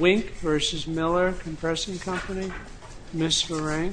Wink v. Miller Compressing Company, Ms. Varang.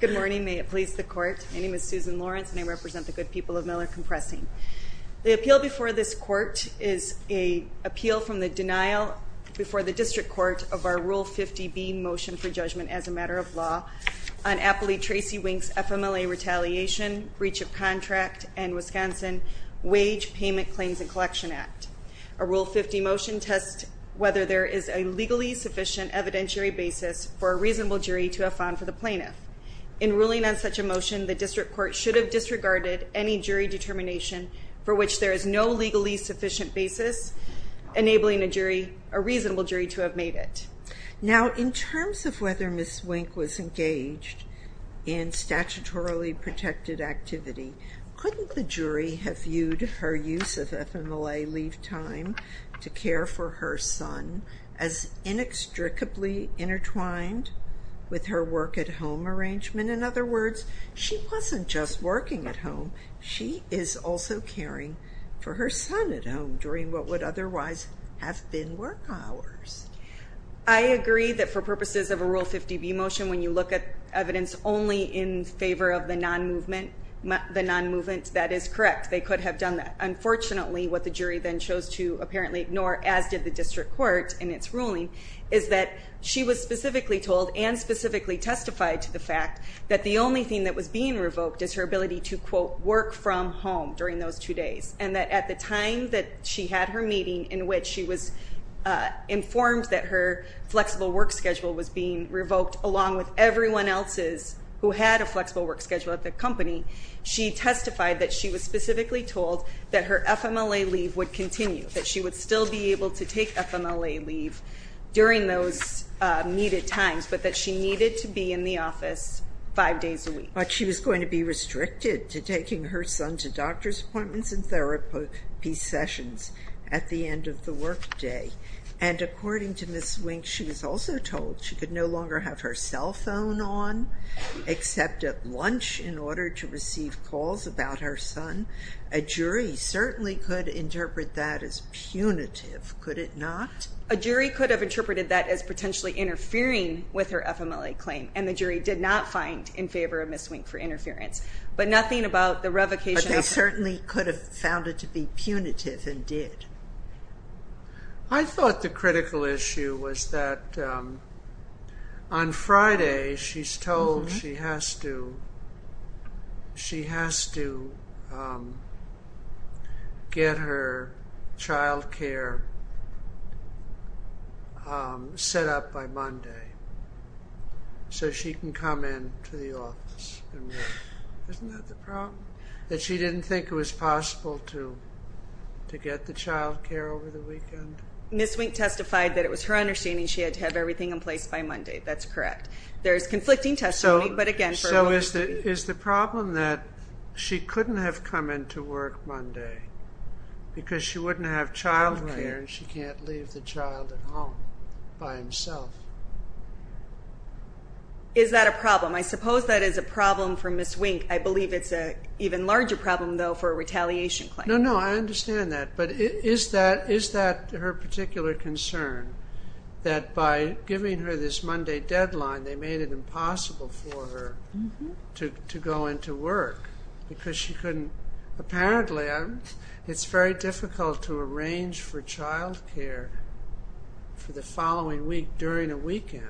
Good morning. May it please the Court. My name is Susan Lawrence, and I represent the Wink v. Miller Compressing Company, Ms. Varang. The appeal before this court is an appeal from the denial before the District Court of our Rule 50b Motion for Judgment as a Matter of Law on Appellee Tracy Wink's FMLA Retaliation, Breach of Contract, and Wisconsin Wage Payment Claims and Collection Act. A Rule 50 motion tests whether there is a legally sufficient evidentiary basis for a reasonable jury to have found for the plaintiff. In ruling on such a motion, the District Court should have disregarded any jury determination for which there is no legally sufficient basis enabling a reasonable jury to have made it. Now, in terms of whether Ms. Wink was engaged in statutorily protected activity, couldn't the jury have viewed her use of FMLA leave time to care for her son as inextricably intertwined with her work-at-home arrangement? In other words, she wasn't just working at home, she is also caring for her son at home during what would otherwise have been work hours. I agree that for purposes of a Rule 50b motion, when you look at evidence only in favor of the non-movement, that is correct. They could have done that. Unfortunately, what the jury then chose to apparently ignore, as did the District Court in its ruling, is that she was specifically told and specifically testified to the fact that the only thing that was being revoked is her ability to, quote, work from home during those two days, and that at the time that she had her meeting in which she was informed that her flexible work schedule was being revoked along with everyone else's who had a flexible work schedule at the company, she testified that she was specifically told that her FMLA leave would continue, that she would still be able to take FMLA leave during those needed times, but that she needed to be in the office five days a week. But she was going to be restricted to taking her son to doctor's appointments and therapy sessions at the end of the work day. And according to Ms. Wink, she was also told she could no longer have her cell phone on except at lunch in order to receive calls about her son. A jury certainly could interpret that as punitive, could it not? A jury could have interpreted that as potentially interfering with her FMLA claim, and the jury did not find in favor of Ms. Wink for interference. But nothing about the revocation... But they certainly could have found it to be punitive and did. I thought the critical issue was that on Friday she's told she has to, she has to get her so she can come in to the office and work. Isn't that the problem? That she didn't think it was possible to get the child care over the weekend? Ms. Wink testified that it was her understanding she had to have everything in place by Monday, that's correct. There's conflicting testimony, but again, for a woman to be... So is the problem that she couldn't have come in to work Monday because she wouldn't have child care and she can't leave the child at home by himself? Is that a problem? I suppose that is a problem for Ms. Wink. I believe it's an even larger problem, though, for a retaliation claim. No, no, I understand that. But is that her particular concern, that by giving her this Monday deadline they made it impossible for her to go into work because she couldn't... It's very difficult to arrange for child care for the following week during a weekend.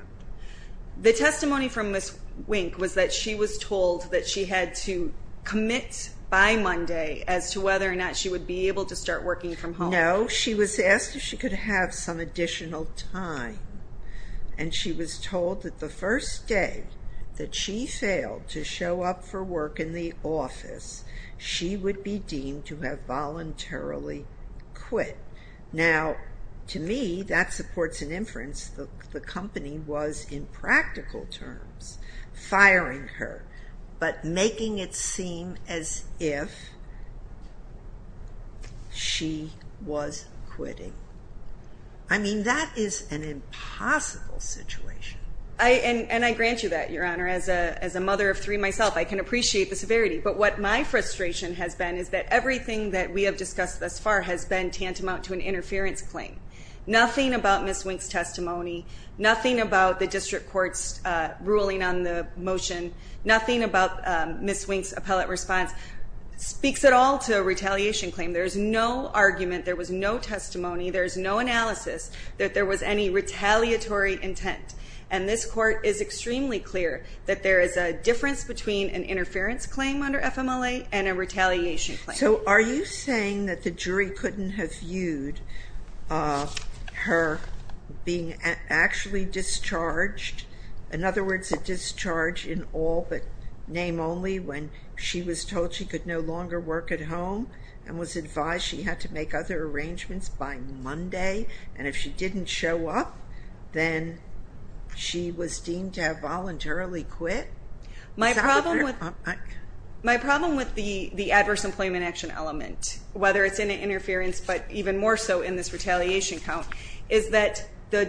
The testimony from Ms. Wink was that she was told that she had to commit by Monday as to whether or not she would be able to start working from home. No, she was asked if she could have some additional time. And she was told that the first day that she failed to show up for work in the office, she would be deemed to have voluntarily quit. Now to me, that supports an inference that the company was, in practical terms, firing her, but making it seem as if she was quitting. I mean, that is an impossible situation. And I grant you that, Your Honor. As a mother of three myself, I can appreciate the severity. But what my frustration has been is that everything that we have discussed thus far has been tantamount to an interference claim. Nothing about Ms. Wink's testimony, nothing about the District Court's ruling on the motion, nothing about Ms. Wink's appellate response speaks at all to a retaliation claim. There is no argument, there was no testimony, there is no analysis that there was any retaliatory intent. And this Court is extremely clear that there is a difference between an interference claim under FMLA and a retaliation claim. So are you saying that the jury couldn't have viewed her being actually discharged? In other words, a discharge in all but name only when she was told she could no longer work at home and was advised she had to make other arrangements by Monday, and if she didn't show up, then she was deemed to have voluntarily quit? My problem with the adverse employment action element, whether it's in an interference but even more so in this retaliation count, is that the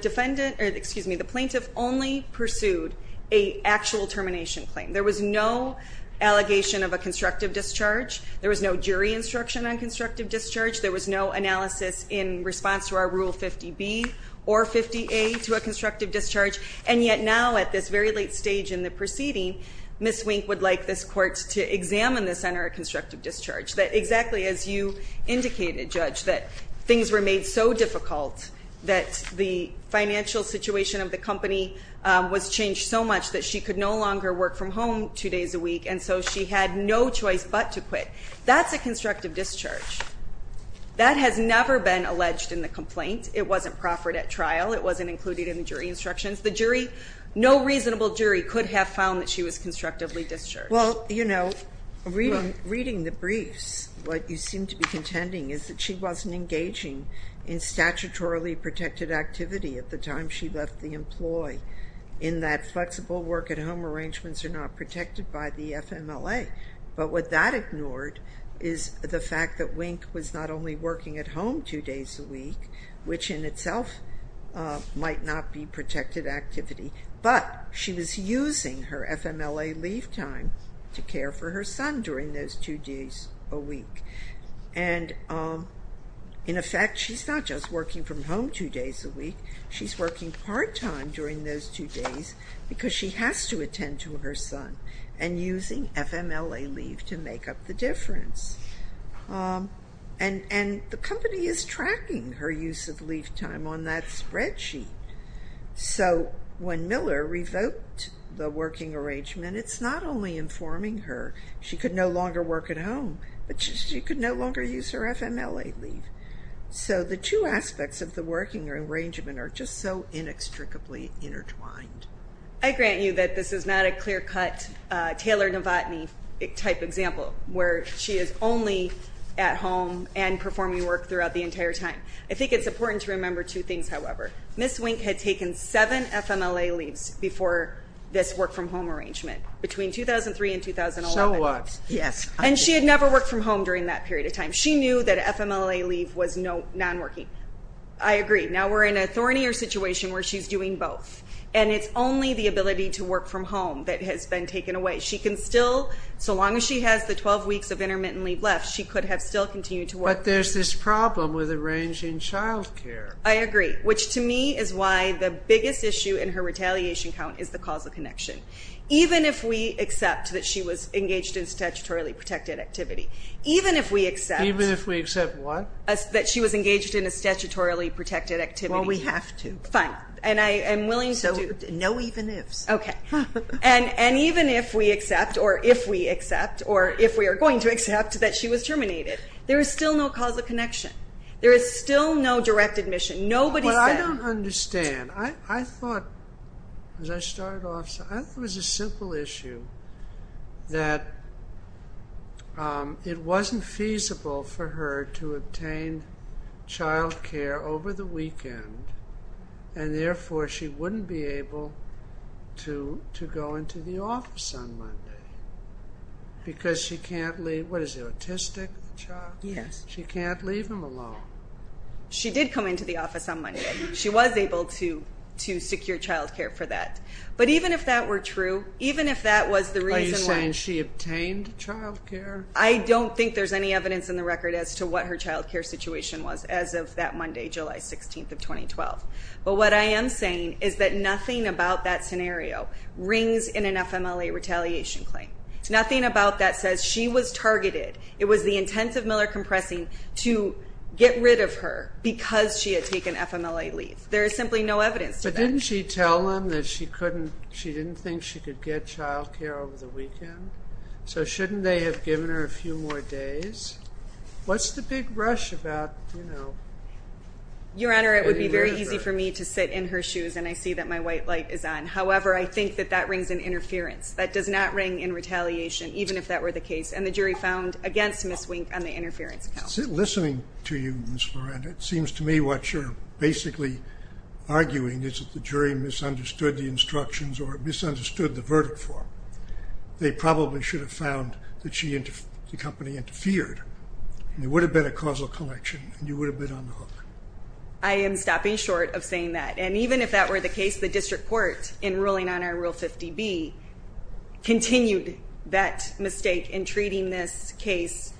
plaintiff only pursued an actual constructive discharge. There was no jury instruction on constructive discharge, there was no analysis in response to our Rule 50B or 50A to a constructive discharge, and yet now at this very late stage in the proceeding, Ms. Wink would like this Court to examine this under a constructive discharge. That exactly as you indicated, Judge, that things were made so difficult that the financial situation of the company was changed so much that she could no longer work from home two days a week, and so she had no choice but to quit. That's a constructive discharge. That has never been alleged in the complaint. It wasn't proffered at trial, it wasn't included in the jury instructions. The jury, no reasonable jury could have found that she was constructively discharged. Well, you know, reading the briefs, what you seem to be contending is that she wasn't engaging in statutorily protected activity at the time she left the employee, in that flexible work-at-home arrangements are not protected by the FMLA. But what that ignored is the fact that Wink was not only working at home two days a week, which in itself might not be protected activity, but she was using her FMLA leave time to care for her son during those two days a week. And in effect, she's not just working from home two days a week, she's working part-time during those two days because she has to attend to her son, and using FMLA leave to make up the difference. And the company is tracking her use of leave time on that spreadsheet. So when Miller revoked the working arrangement, it's not only informing her she could no longer work at home, but she could no longer use her FMLA leave. So the two aspects of the working arrangement are just so inextricably intertwined. I grant you that this is not a clear-cut Taylor Novotny type example, where she is only at home and performing work throughout the entire time. I think it's important to remember two things, however. Ms. Wink had taken seven FMLA leaves before this work-from-home arrangement, between 2003 and 2011. And she had never worked from home during that period of time. She knew that FMLA leave was non-working. I agree. Now we're in a thornier situation where she's doing both, and it's only the ability to work from home that has been taken away. So long as she has the 12 weeks of intermittent leave left, she could have still continued to work. But there's this problem with arranging childcare. I agree, which to me is why the biggest issue in her retaliation count is the causal connection. Even if we accept that she was engaged in statutorily protected activity, even if we accept that she was engaged in a statutorily protected activity. Well, we have to. Fine. And I am willing to do. So no even ifs. Okay. And even if we accept, or if we accept, or if we are going to accept, that she was terminated, there is still no causal connection. There is still no direct admission. Nobody said I don't understand. I thought, as I started off, I thought it was a simple issue that it wasn't feasible for her to obtain childcare over the weekend, and therefore she wouldn't be able to go into the office on Monday. Because she can't leave, what is it, autistic? Yes. She can't leave him alone. She did come into the office on Monday. She was able to secure childcare for that. But even if that were true, even if that was the reason why. Are you saying she obtained childcare? I don't think there's any evidence in the record as to what her childcare situation was as of that Monday, July 16th of 2012. But what I am saying is that nothing about that scenario rings in an FMLA retaliation claim. Nothing about that says she was targeted. It was the intent of Miller Compressing to get rid of her because she had taken FMLA leave. There is simply no evidence to that. But didn't she tell them that she couldn't, she didn't think she could get childcare over the weekend? So shouldn't they have given her a few more days? What's the big rush about, you know, getting rid of her? Your Honor, it would be very easy for me to sit in her shoes and I see that my white light is on. However, I think that that rings in interference. That does not ring in retaliation, even if that were the case. And the jury found against Ms. Wink on the interference count. Listening to you, Ms. Loren, it seems to me what you're basically arguing is that the jury misunderstood the instructions or misunderstood the verdict for her. They probably should have found that she and the company interfered. It would have been a causal connection and you would have been on the hook. I am stopping short of saying that. And even if that were the case, the district court in ruling on our Rule 50B continued that mistake in treating this case,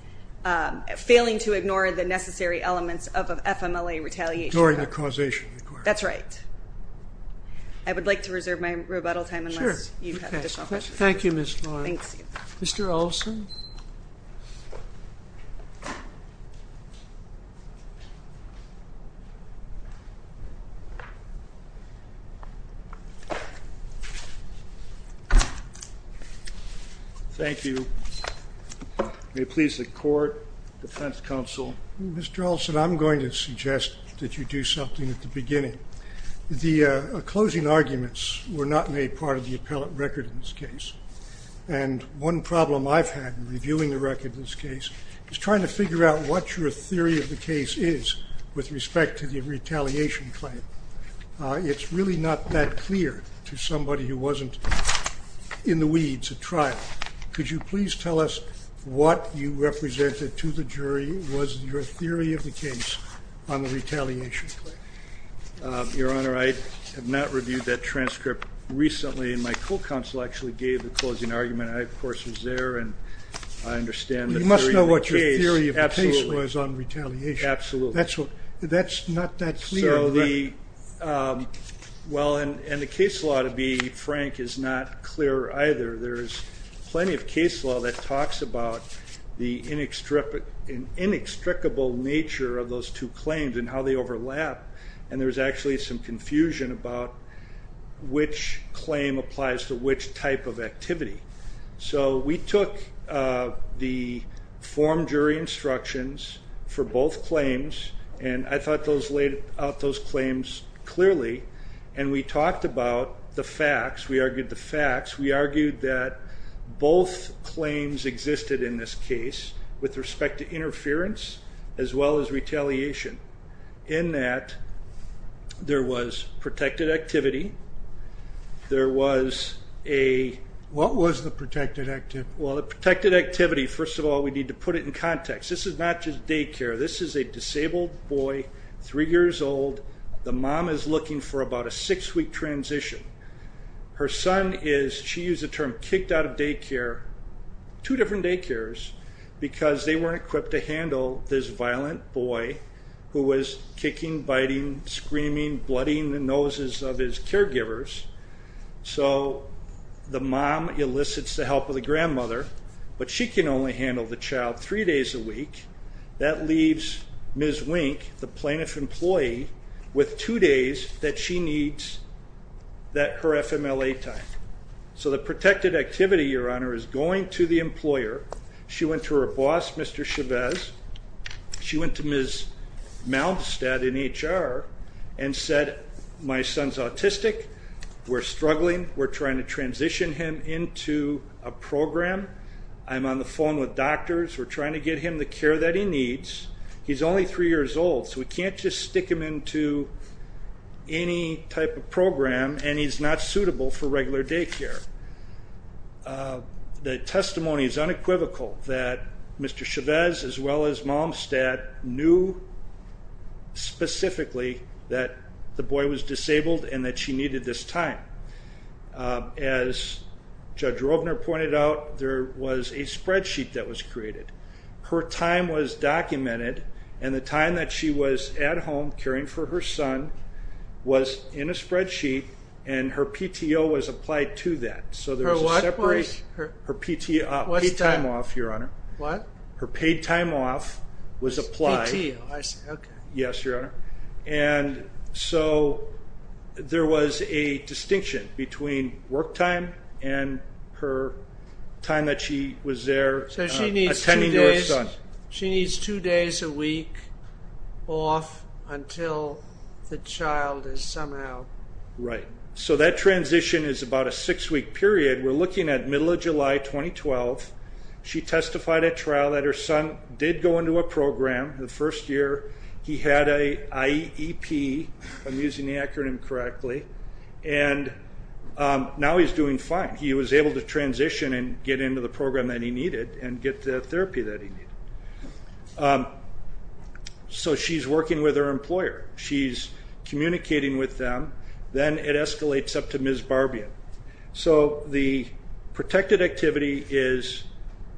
failing to ignore the necessary elements of FMLA retaliation. Ignoring the causation. That's right. I would like to reserve my rebuttal time unless you have a question. Thank you, Mr. Olson. Thank you. Please. The court defense counsel. Mr. Olson, I'm going to suggest that you do something at the beginning. The closing arguments were not made part of the appellate record in this case. And one problem I've had in reviewing the record in this case is trying to figure out what your theory of the case is with respect to the retaliation claim. It's really not that clear to somebody who wasn't in the weeds at trial. Could you please tell us what you represented to the jury was your theory of the case on the retaliation claim? Your Honor, I have not reviewed that transcript. Recently in my court counsel actually gave the closing argument. I, of course, was there and I understand the theory of the case. You must know what your theory of the case was on retaliation. Absolutely. That's not that clear. Well, and the case law, to be frank, is not clear either. There's plenty of case law that talks about the inextricable nature of those two claims and how they overlap. And there's actually some confusion about which claim applies to which type of activity. So we took the form jury instructions for both claims and I thought those laid out those claims clearly. And we listed in this case with respect to interference as well as retaliation in that there was protected activity, there was a... What was the protected activity? Well, the protected activity, first of all, we need to put it in context. This is not just daycare. This is a disabled boy, three years old. The mom is looking for about a six week transition. Her son is, she used the term kicked out of daycare, two different daycares, because they weren't equipped to handle this violent boy who was kicking, biting, screaming, blooding the noses of his caregivers. So the mom elicits the help of the grandmother, but she can only handle the child three days a week. That leaves Ms. Wink, the plaintiff employee, with two days that she needs that per FMLA time. So the protected activity, Your Honor, is going to the employer. She went to her boss, Mr. Chavez. She went to Ms. Malmstead in HR and said, my son's autistic. We're struggling. We're trying to transition him into a program. I'm on the phone with doctors. We're trying to get him the care that he needs. He's only three years old, so we can't just stick him into any type of program, and he's not suitable for regular daycare. The testimony is unequivocal that Mr. Chavez, as well as Malmstead, knew specifically that the boy was disabled and that she needed this time. As Judge Rovner pointed out, there caring for her son was in a spreadsheet, and her PTO was applied to that. So there was a separate paid time off, Your Honor. Her paid time off was applied. Yes, Your Honor. And so there was a distinction between work time and her time that she was there attending your son. She needs two days a week off until the child is somehow... Right. So that transition is about a six-week period. We're looking at middle of July 2012. She testified at trial that her son did go into a program the first year. He had an IEP, if I'm using the acronym correctly, and now he's doing fine. He was able to transition and get into the program that he needed and get the therapy that he needed. So she's working with her employer. She's communicating with them. Then it escalates up to Ms. Barbian. So the protected activity is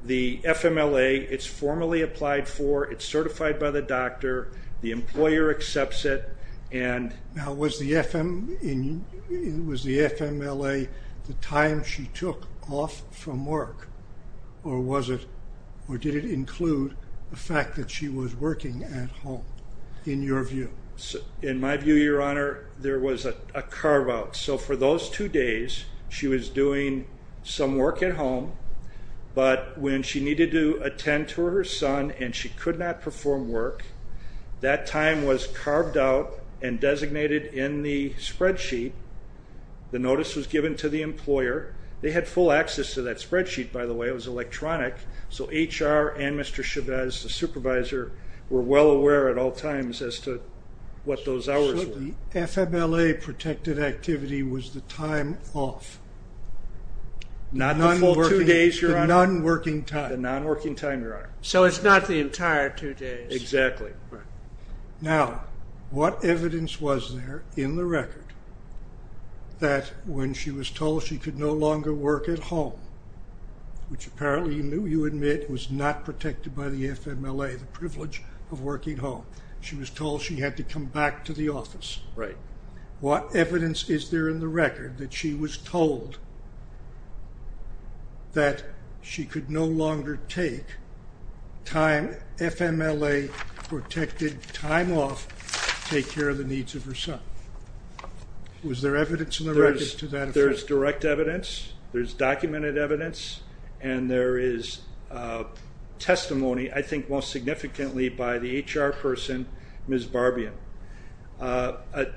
the FMLA. It's formally applied for. It's certified by the doctor. The employer accepts it. Now, was the FMLA the time she took off from work, or did it include the fact that she was working at home, in your view? In my view, Your Honor, there was a carve-out. So for those two days, she was doing some work at home, but when she needed to attend to her son and she could not perform work, that time was carved out and designated in the spreadsheet. The notice was given to the employer. They had full access to that spreadsheet, by the way. It was electronic. So HR and Mr. Chavez, the supervisor, were well aware at all times as to what those hours were. So the FMLA-protected activity was the time off? Not the full two days, Your Honor. The non-working time. The non-working time, Your Honor. So it's not the entire two days. Exactly. Now, what evidence was there in the record that when she was told she could no longer work at home, which apparently you admit was not protected by the FMLA, the privilege of working home. She was told she had to come back to the office. Right. What evidence is there in the record that she was told that she could no longer take time, FMLA-protected time off to take care of the needs of her son? Was there evidence in the record to that effect? There's direct evidence. There's documented evidence. And there is testimony, I think, most significantly by the HR person, Ms. Barbian. A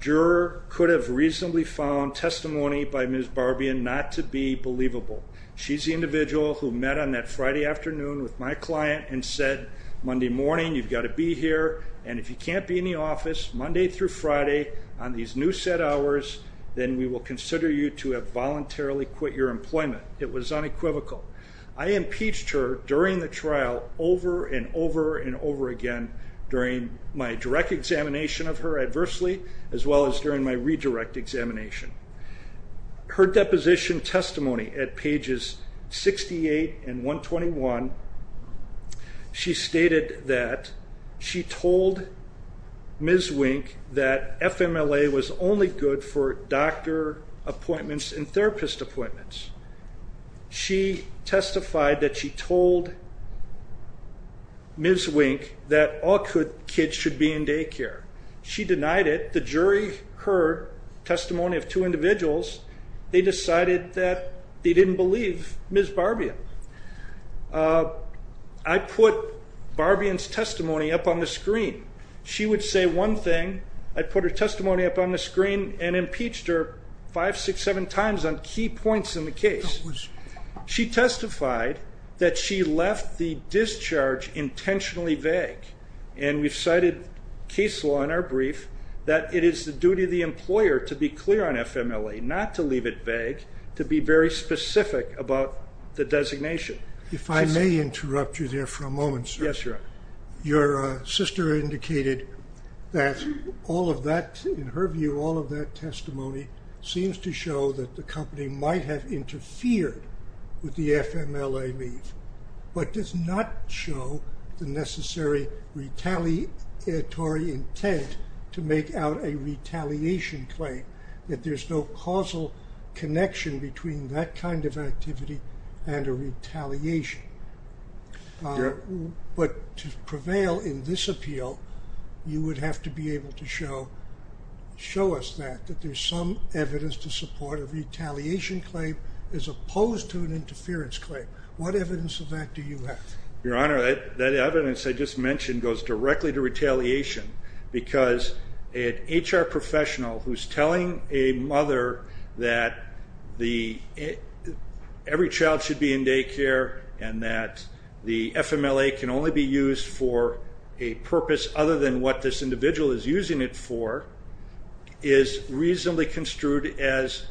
juror could have reasonably found testimony by Ms. Barbian not to be believable. She's the individual who met on that Friday afternoon with my client and said, Monday morning, you've got to be here. And if you can't be in the office Monday through Friday on these new set hours, then we will consider you to have voluntarily quit your employment. It was unequivocal. I impeached her during the trial over and over and over again during my direct examination of her adversely, as well as during my redirect examination. Her deposition testimony at pages 68 and 121, she stated that she told Ms. Wink that FMLA was only good for doctor appointments and therapist appointments. She testified that she told Ms. Wink that all kids should be in daycare. She denied it. The jury heard testimony of two individuals. They decided that they didn't believe Ms. Barbian. I put Barbian's testimony up on the screen. She would say one thing. I put her testimony up on the screen and impeached her five, six, seven times on key points in the case. She testified that she left the discharge intentionally vague. And we've cited case law in our brief that it is the duty of the employer to be clear on FMLA, not to leave it vague, to be very specific about the designation. If I may interrupt you there for a moment, sir. Yes, your honor. Your sister indicated that all of that, in her view, all of that testimony seems to show that the company might have interfered with the FMLA leave, but does not show the necessary retaliatory intent to make out a retaliation claim, that there's no causal connection between that kind of activity and a retaliation. But to prevail in this appeal, you would have to be able to show, show us that, that there's some evidence to support a retaliation claim as opposed to an interference claim. What evidence of that do you have? Your honor, that evidence I just mentioned goes directly to retaliation because an HR professional who's telling a mother that every child should be in daycare and that the FMLA can only be used for a purpose other than what this individual is using it for is reasonably construed as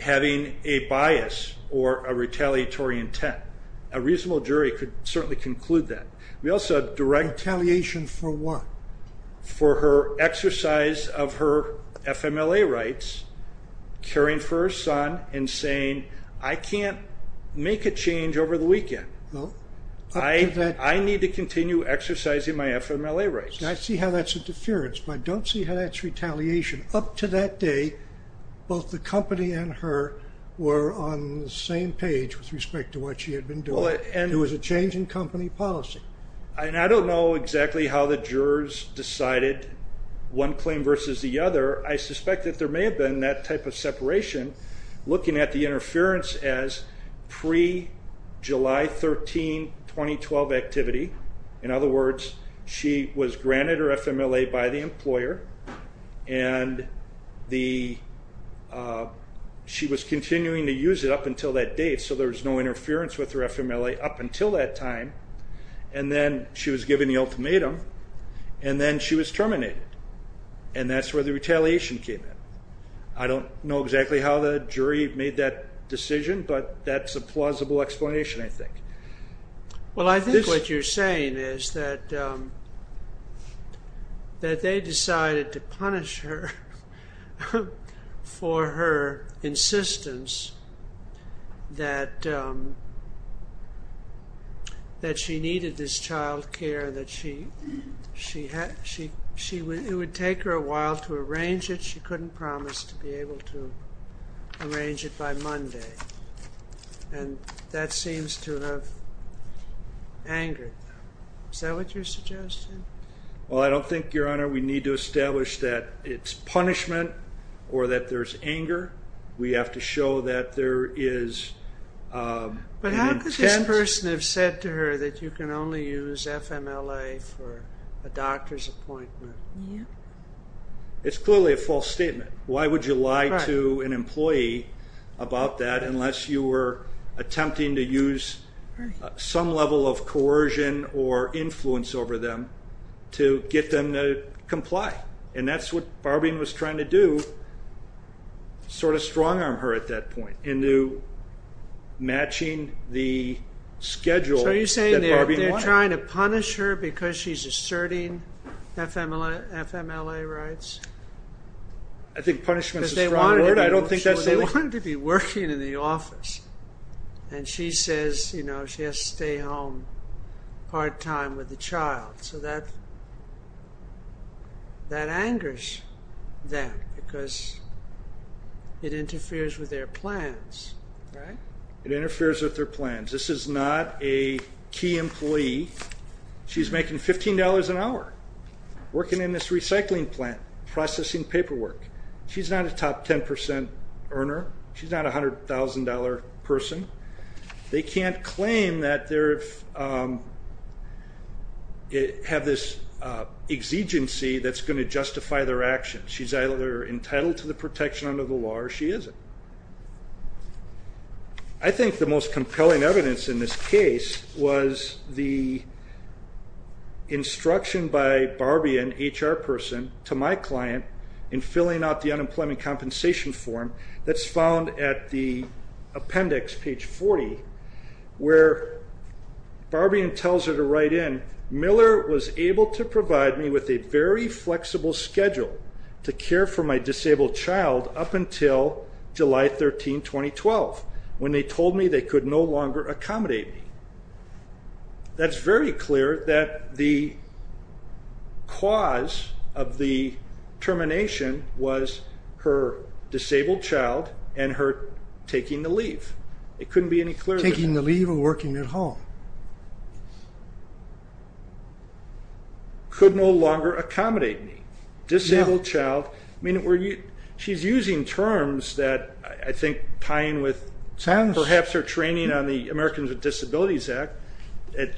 having a bias or a retaliatory intent. A reasonable jury could certainly conclude that. Retaliation for what? For her exercise of her FMLA rights, caring for her son and saying, I can't make a change over the weekend. I need to continue exercising my FMLA rights. I see how that's a deference, but I don't see how that's retaliation. Up to that day, both the company and her were on the same page with respect to what she had been doing. It was a change in company policy. And I don't know exactly how the jurors decided one claim versus the other. I suspect that there may have been that type of separation looking at the interference as pre-July 13, 2012 activity. In other words, she was granted her FMLA by the employer and the, she was continuing to use it up until that date. So there was no up until that time. And then she was given the ultimatum and then she was terminated. And that's where the retaliation came in. I don't know exactly how the jury made that decision, but that's a plausible explanation, I think. Well, I think what you're saying is that they decided to punish her for her insistence that she needed this child care, that it would take her a while to arrange it. She couldn't promise to be able to arrange it by Monday. And that seems to have angered them. Is that what you're suggesting? Well, I don't think, Your Honor, we need to establish that it's punishment or that there's anger. We have to show that there is an intent. But how could this person have said to her that you can only use FMLA for a doctor's appointment? It's clearly a false statement. Why would you lie to an employee about that unless you were attempting to use some level of coercion or influence over them to get them to comply? And that's what Barbing was trying to do, sort of strong-arm her at that point into matching the schedule that Barbing wanted. So you're saying they're trying to punish her because she's asserting FMLA rights? I think punishment's a strong word. They wanted to be working in the office, and she says she has to stay home part-time with the child. So that angers them because it interferes with their plans, right? It interferes with their plans. This is not a key employee. She's making $15 an hour working in this recycling plant processing paperwork. She's not a top 10 percent earner. She's not a $100,000 person. They can't claim that they have this exigency that's going to justify their actions. She's either entitled to the protection under the law or she isn't. I think the most compelling evidence in this case was the instruction by Barbian, HR person, to my client in filling out the unemployment compensation form that's found at the appendix, page 40, where Barbian tells her to write in, Miller was able to provide me with a very flexible schedule to care for my disabled child up until July 13, 2012, when they told me they could no longer accommodate me. That's very clear that the cause of the termination was her disabled child and her taking the leave. It couldn't be any clearer. Taking the leave and working at home. It could no longer accommodate me. Disabled child. She's using terms that I think tie in with perhaps her training on the Americans with Disabilities Act.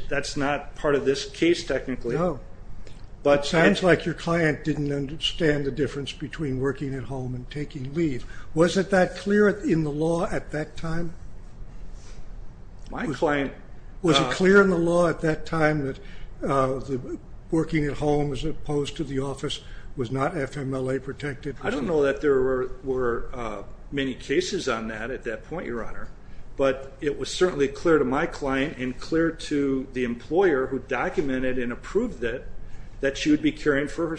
That's not part of this case technically. It sounds like your client didn't understand the difference between working at home and taking leave. Was it that clear in the law at that time? My client... Was it clear in the law at that time that working at home as opposed to the office was not FMLA protected? I don't know that there were many cases on that at that point, Your Honor, but it was certainly clear to my client and clear to the employer who documented and approved it that she would be caring for her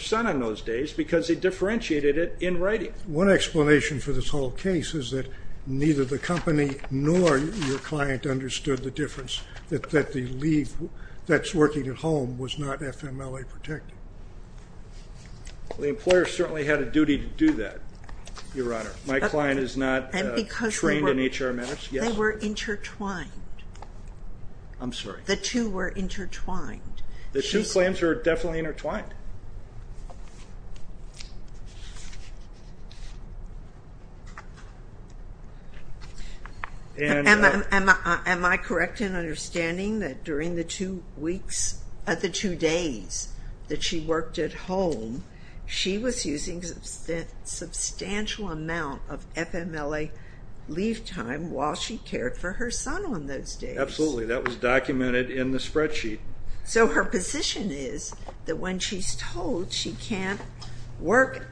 because they differentiated it in writing. One explanation for this whole case is that neither the company nor your client understood the difference that the leave that's working at home was not FMLA protected. The employer certainly had a duty to do that, Your Honor. My client is not trained in HR matters. They were intertwined. I'm sorry. The two were intertwined. The two claims are definitely intertwined. Am I correct in understanding that during the two weeks, the two days that she worked at home, she was using a substantial amount of FMLA leave time while she cared for her son on those days? Absolutely. That was documented in the spreadsheet. So her position is that when she's told she can't work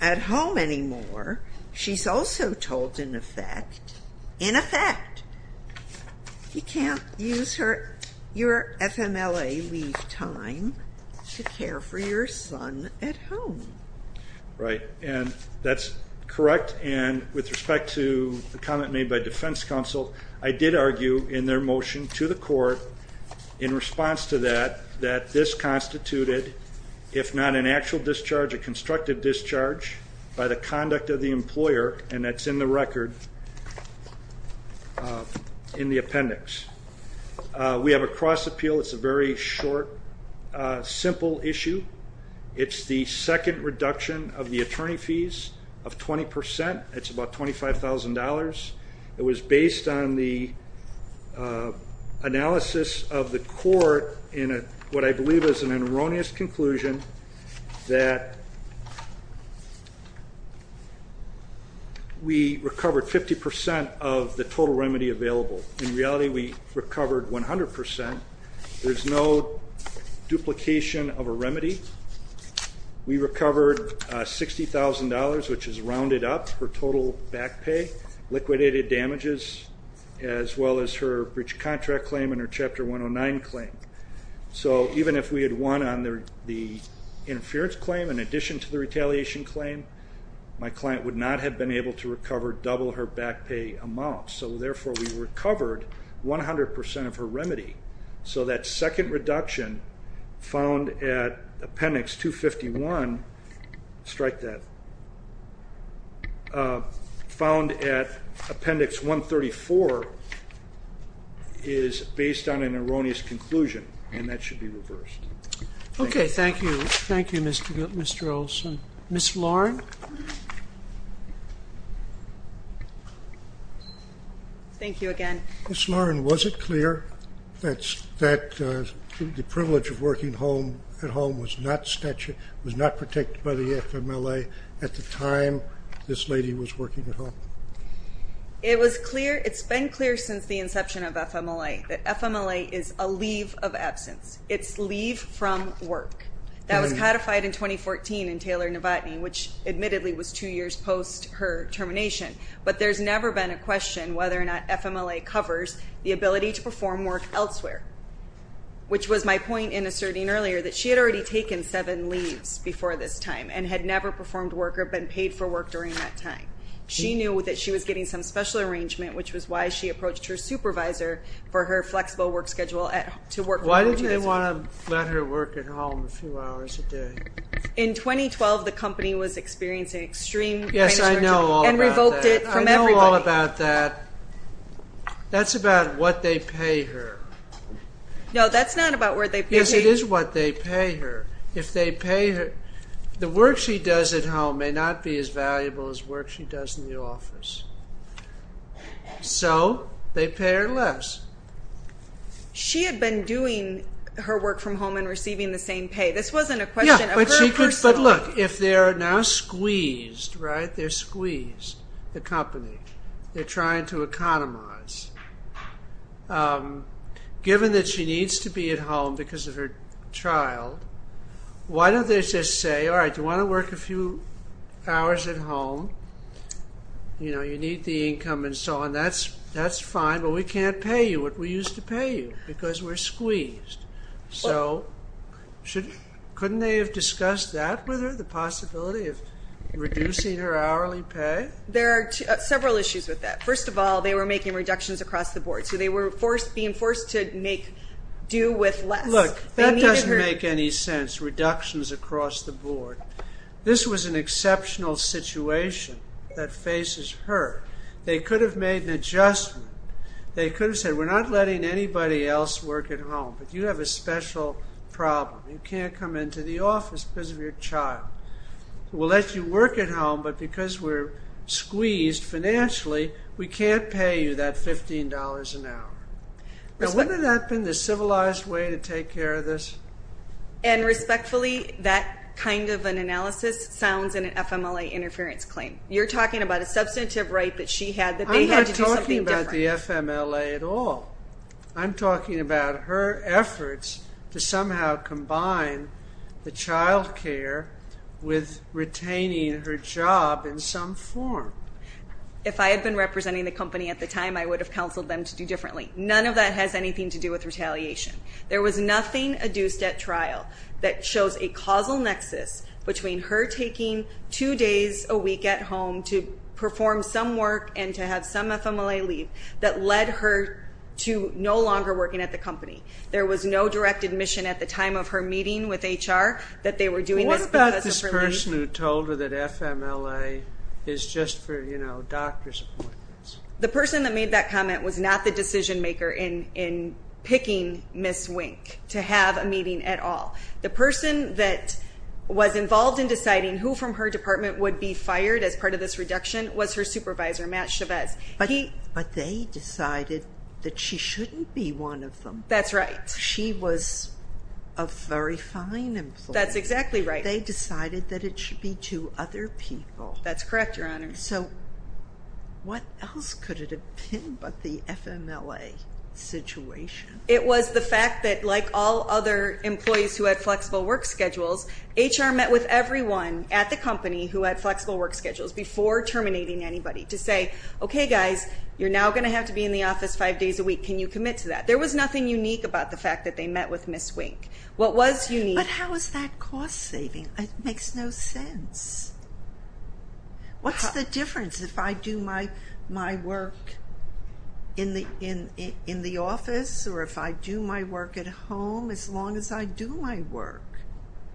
at home anymore, she's also told, in effect, in effect, you can't use your FMLA leave time to care for your son at home. Right. And that's correct. And respect to the comment made by defense counsel, I did argue in their motion to the court, in response to that, that this constituted, if not an actual discharge, a constructive discharge by the conduct of the employer, and that's in the record, in the appendix. We have a cross appeal. It's a very short, simple issue. It's the second reduction of the attorney fees of 20%. It's about $25,000. It was based on the analysis of the court in what I believe is an erroneous conclusion that we recovered 50% of the total remedy available. In reality, we recovered 100%. There's no duplication of a remedy. We recovered $60,000, which is rounded up for total back pay, liquidated damages, as well as her breach contract claim and her Chapter 109 claim. So even if we had won on the interference claim in addition to the retaliation claim, my client would not have been able to recover double her back pay amount. So therefore, we recovered 100% of her remedy. So that second reduction found at appendix 251, strike that, found at appendix 134 is based on an erroneous conclusion, and that should be reversed. Okay. Thank you. Thank you, Mr. Olson. Ms. Lauren? Ms. Lauren, was it clear that the privilege of working at home was not protected by the FMLA at the time this lady was working at home? It's been clear since the inception of FMLA that FMLA is a leave of absence. It's leave from work. That was codified in 2014 in Taylor-Navotny, which admittedly was two years post her termination. But there's never been a question whether or not FMLA covers the ability to perform work elsewhere, which was my point in asserting earlier that she had already taken seven leaves before this time and had never performed work or been paid for work during that time. She knew that she was getting some special arrangement, which was why she approached her supervisor for her flexible work schedule at home. Why did they want to let her work at home a few hours a day? In 2012, the company was experiencing extreme... Yes, I know all about that. ...and revoked it from everybody. I know all about that. That's about what they pay her. No, that's not about what they pay her. Yes, it is what they pay her. If they pay her, the work she does at home may not be as valuable as work she does in the office. So, they pay her less. She had been doing her work from home and receiving the same pay. This wasn't a question of her personal... Yes, but look, if they're now squeezed, right? They're squeezed, the company. They're trying to economize. Given that she needs to be at home because of her child, why don't they just say, all right, you want to work a few hours at home. You need the income and so on. That's fine, but we can't pay you what we used to pay you because we're squeezed. So, couldn't they have discussed that with her, the possibility of reducing her hourly pay? There are several issues with that. First of all, they were making reductions across the board. So, they were being forced to make due with less. Look, that doesn't make any sense, reductions across the board. This was an exceptional situation that faces her. They could have made an adjustment. They could have said, we're not letting anybody else work at home, but you have a special problem. You can't come into the office because of your child. We'll let you work at home, but because we're squeezed financially, we can't pay you that $15 an hour. Now, wouldn't that have been the civilized way to take care of this? And respectfully, that kind of an analysis sounds in an FMLA interference claim. You're not talking about the FMLA at all. I'm talking about her efforts to somehow combine the child care with retaining her job in some form. If I had been representing the company at the time, I would have counseled them to do differently. None of that has anything to do with retaliation. There was nothing adduced at trial that shows a causal nexus between her taking two days a week at home to perform some work and to have some FMLA leave that led her to no longer working at the company. There was no direct admission at the time of her meeting with HR that they were doing this because of her leave. What about this person who told her that FMLA is just for, you know, doctor's appointments? The person that made that comment was not the decision maker in picking Ms. Wink to have a meeting at all. The person that was involved in deciding who from her department would be fired as part of this reduction was her supervisor, Matt Chavez. But they decided that she shouldn't be one of them. That's right. She was a very fine employee. That's exactly right. They decided that it should be two other people. That's correct, Your Honor. So what else could it have been but the FMLA situation? It was the fact that, like all other employees who had flexible work schedules, HR met with everyone at the company who had flexible work schedules before terminating anybody to say, okay, guys, you're now going to have to be in the office five days a week. Can you commit to that? There was nothing unique about the fact that they met with Ms. Wink. But how is that cost saving? It makes no sense. What's the difference if I do my work in the office or if I do my work at home as long as I do my work?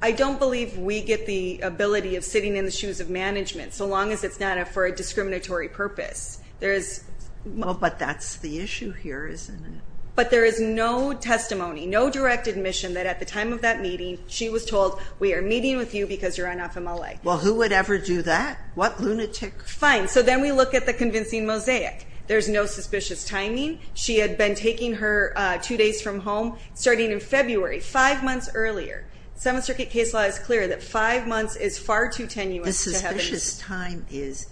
I don't believe we get the ability of sitting in the shoes of management so long as it's not for a discriminatory purpose. But that's the issue here, isn't it? But there is no testimony, no direct admission that at the time of that meeting she was told, we are meeting with you because you're on FMLA. Well, who would ever do that? What lunatic? Fine. So then we look at the convincing mosaic. There's no suspicious timing. She had been taking her two days from home starting in February, five months earlier. Seventh Circuit case law is clear that five months is far too tenuous. The suspicious time is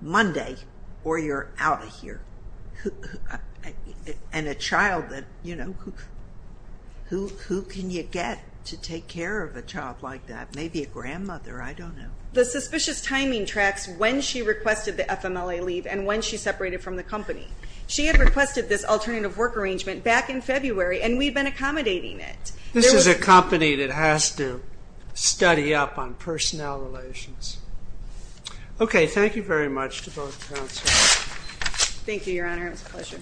Monday or you're out of here. And a child that, you know, who can you get to take care of a child like that? Maybe a grandmother. I don't know. The suspicious timing tracks when she requested the FMLA leave and when she separated from the company. She had requested this alternative work arrangement back in February and we've been accommodating it. This is a company that has to study up on personnel relations. Okay. Thank you very much to both counsel. Thank you, Your Honor. It was a pleasure.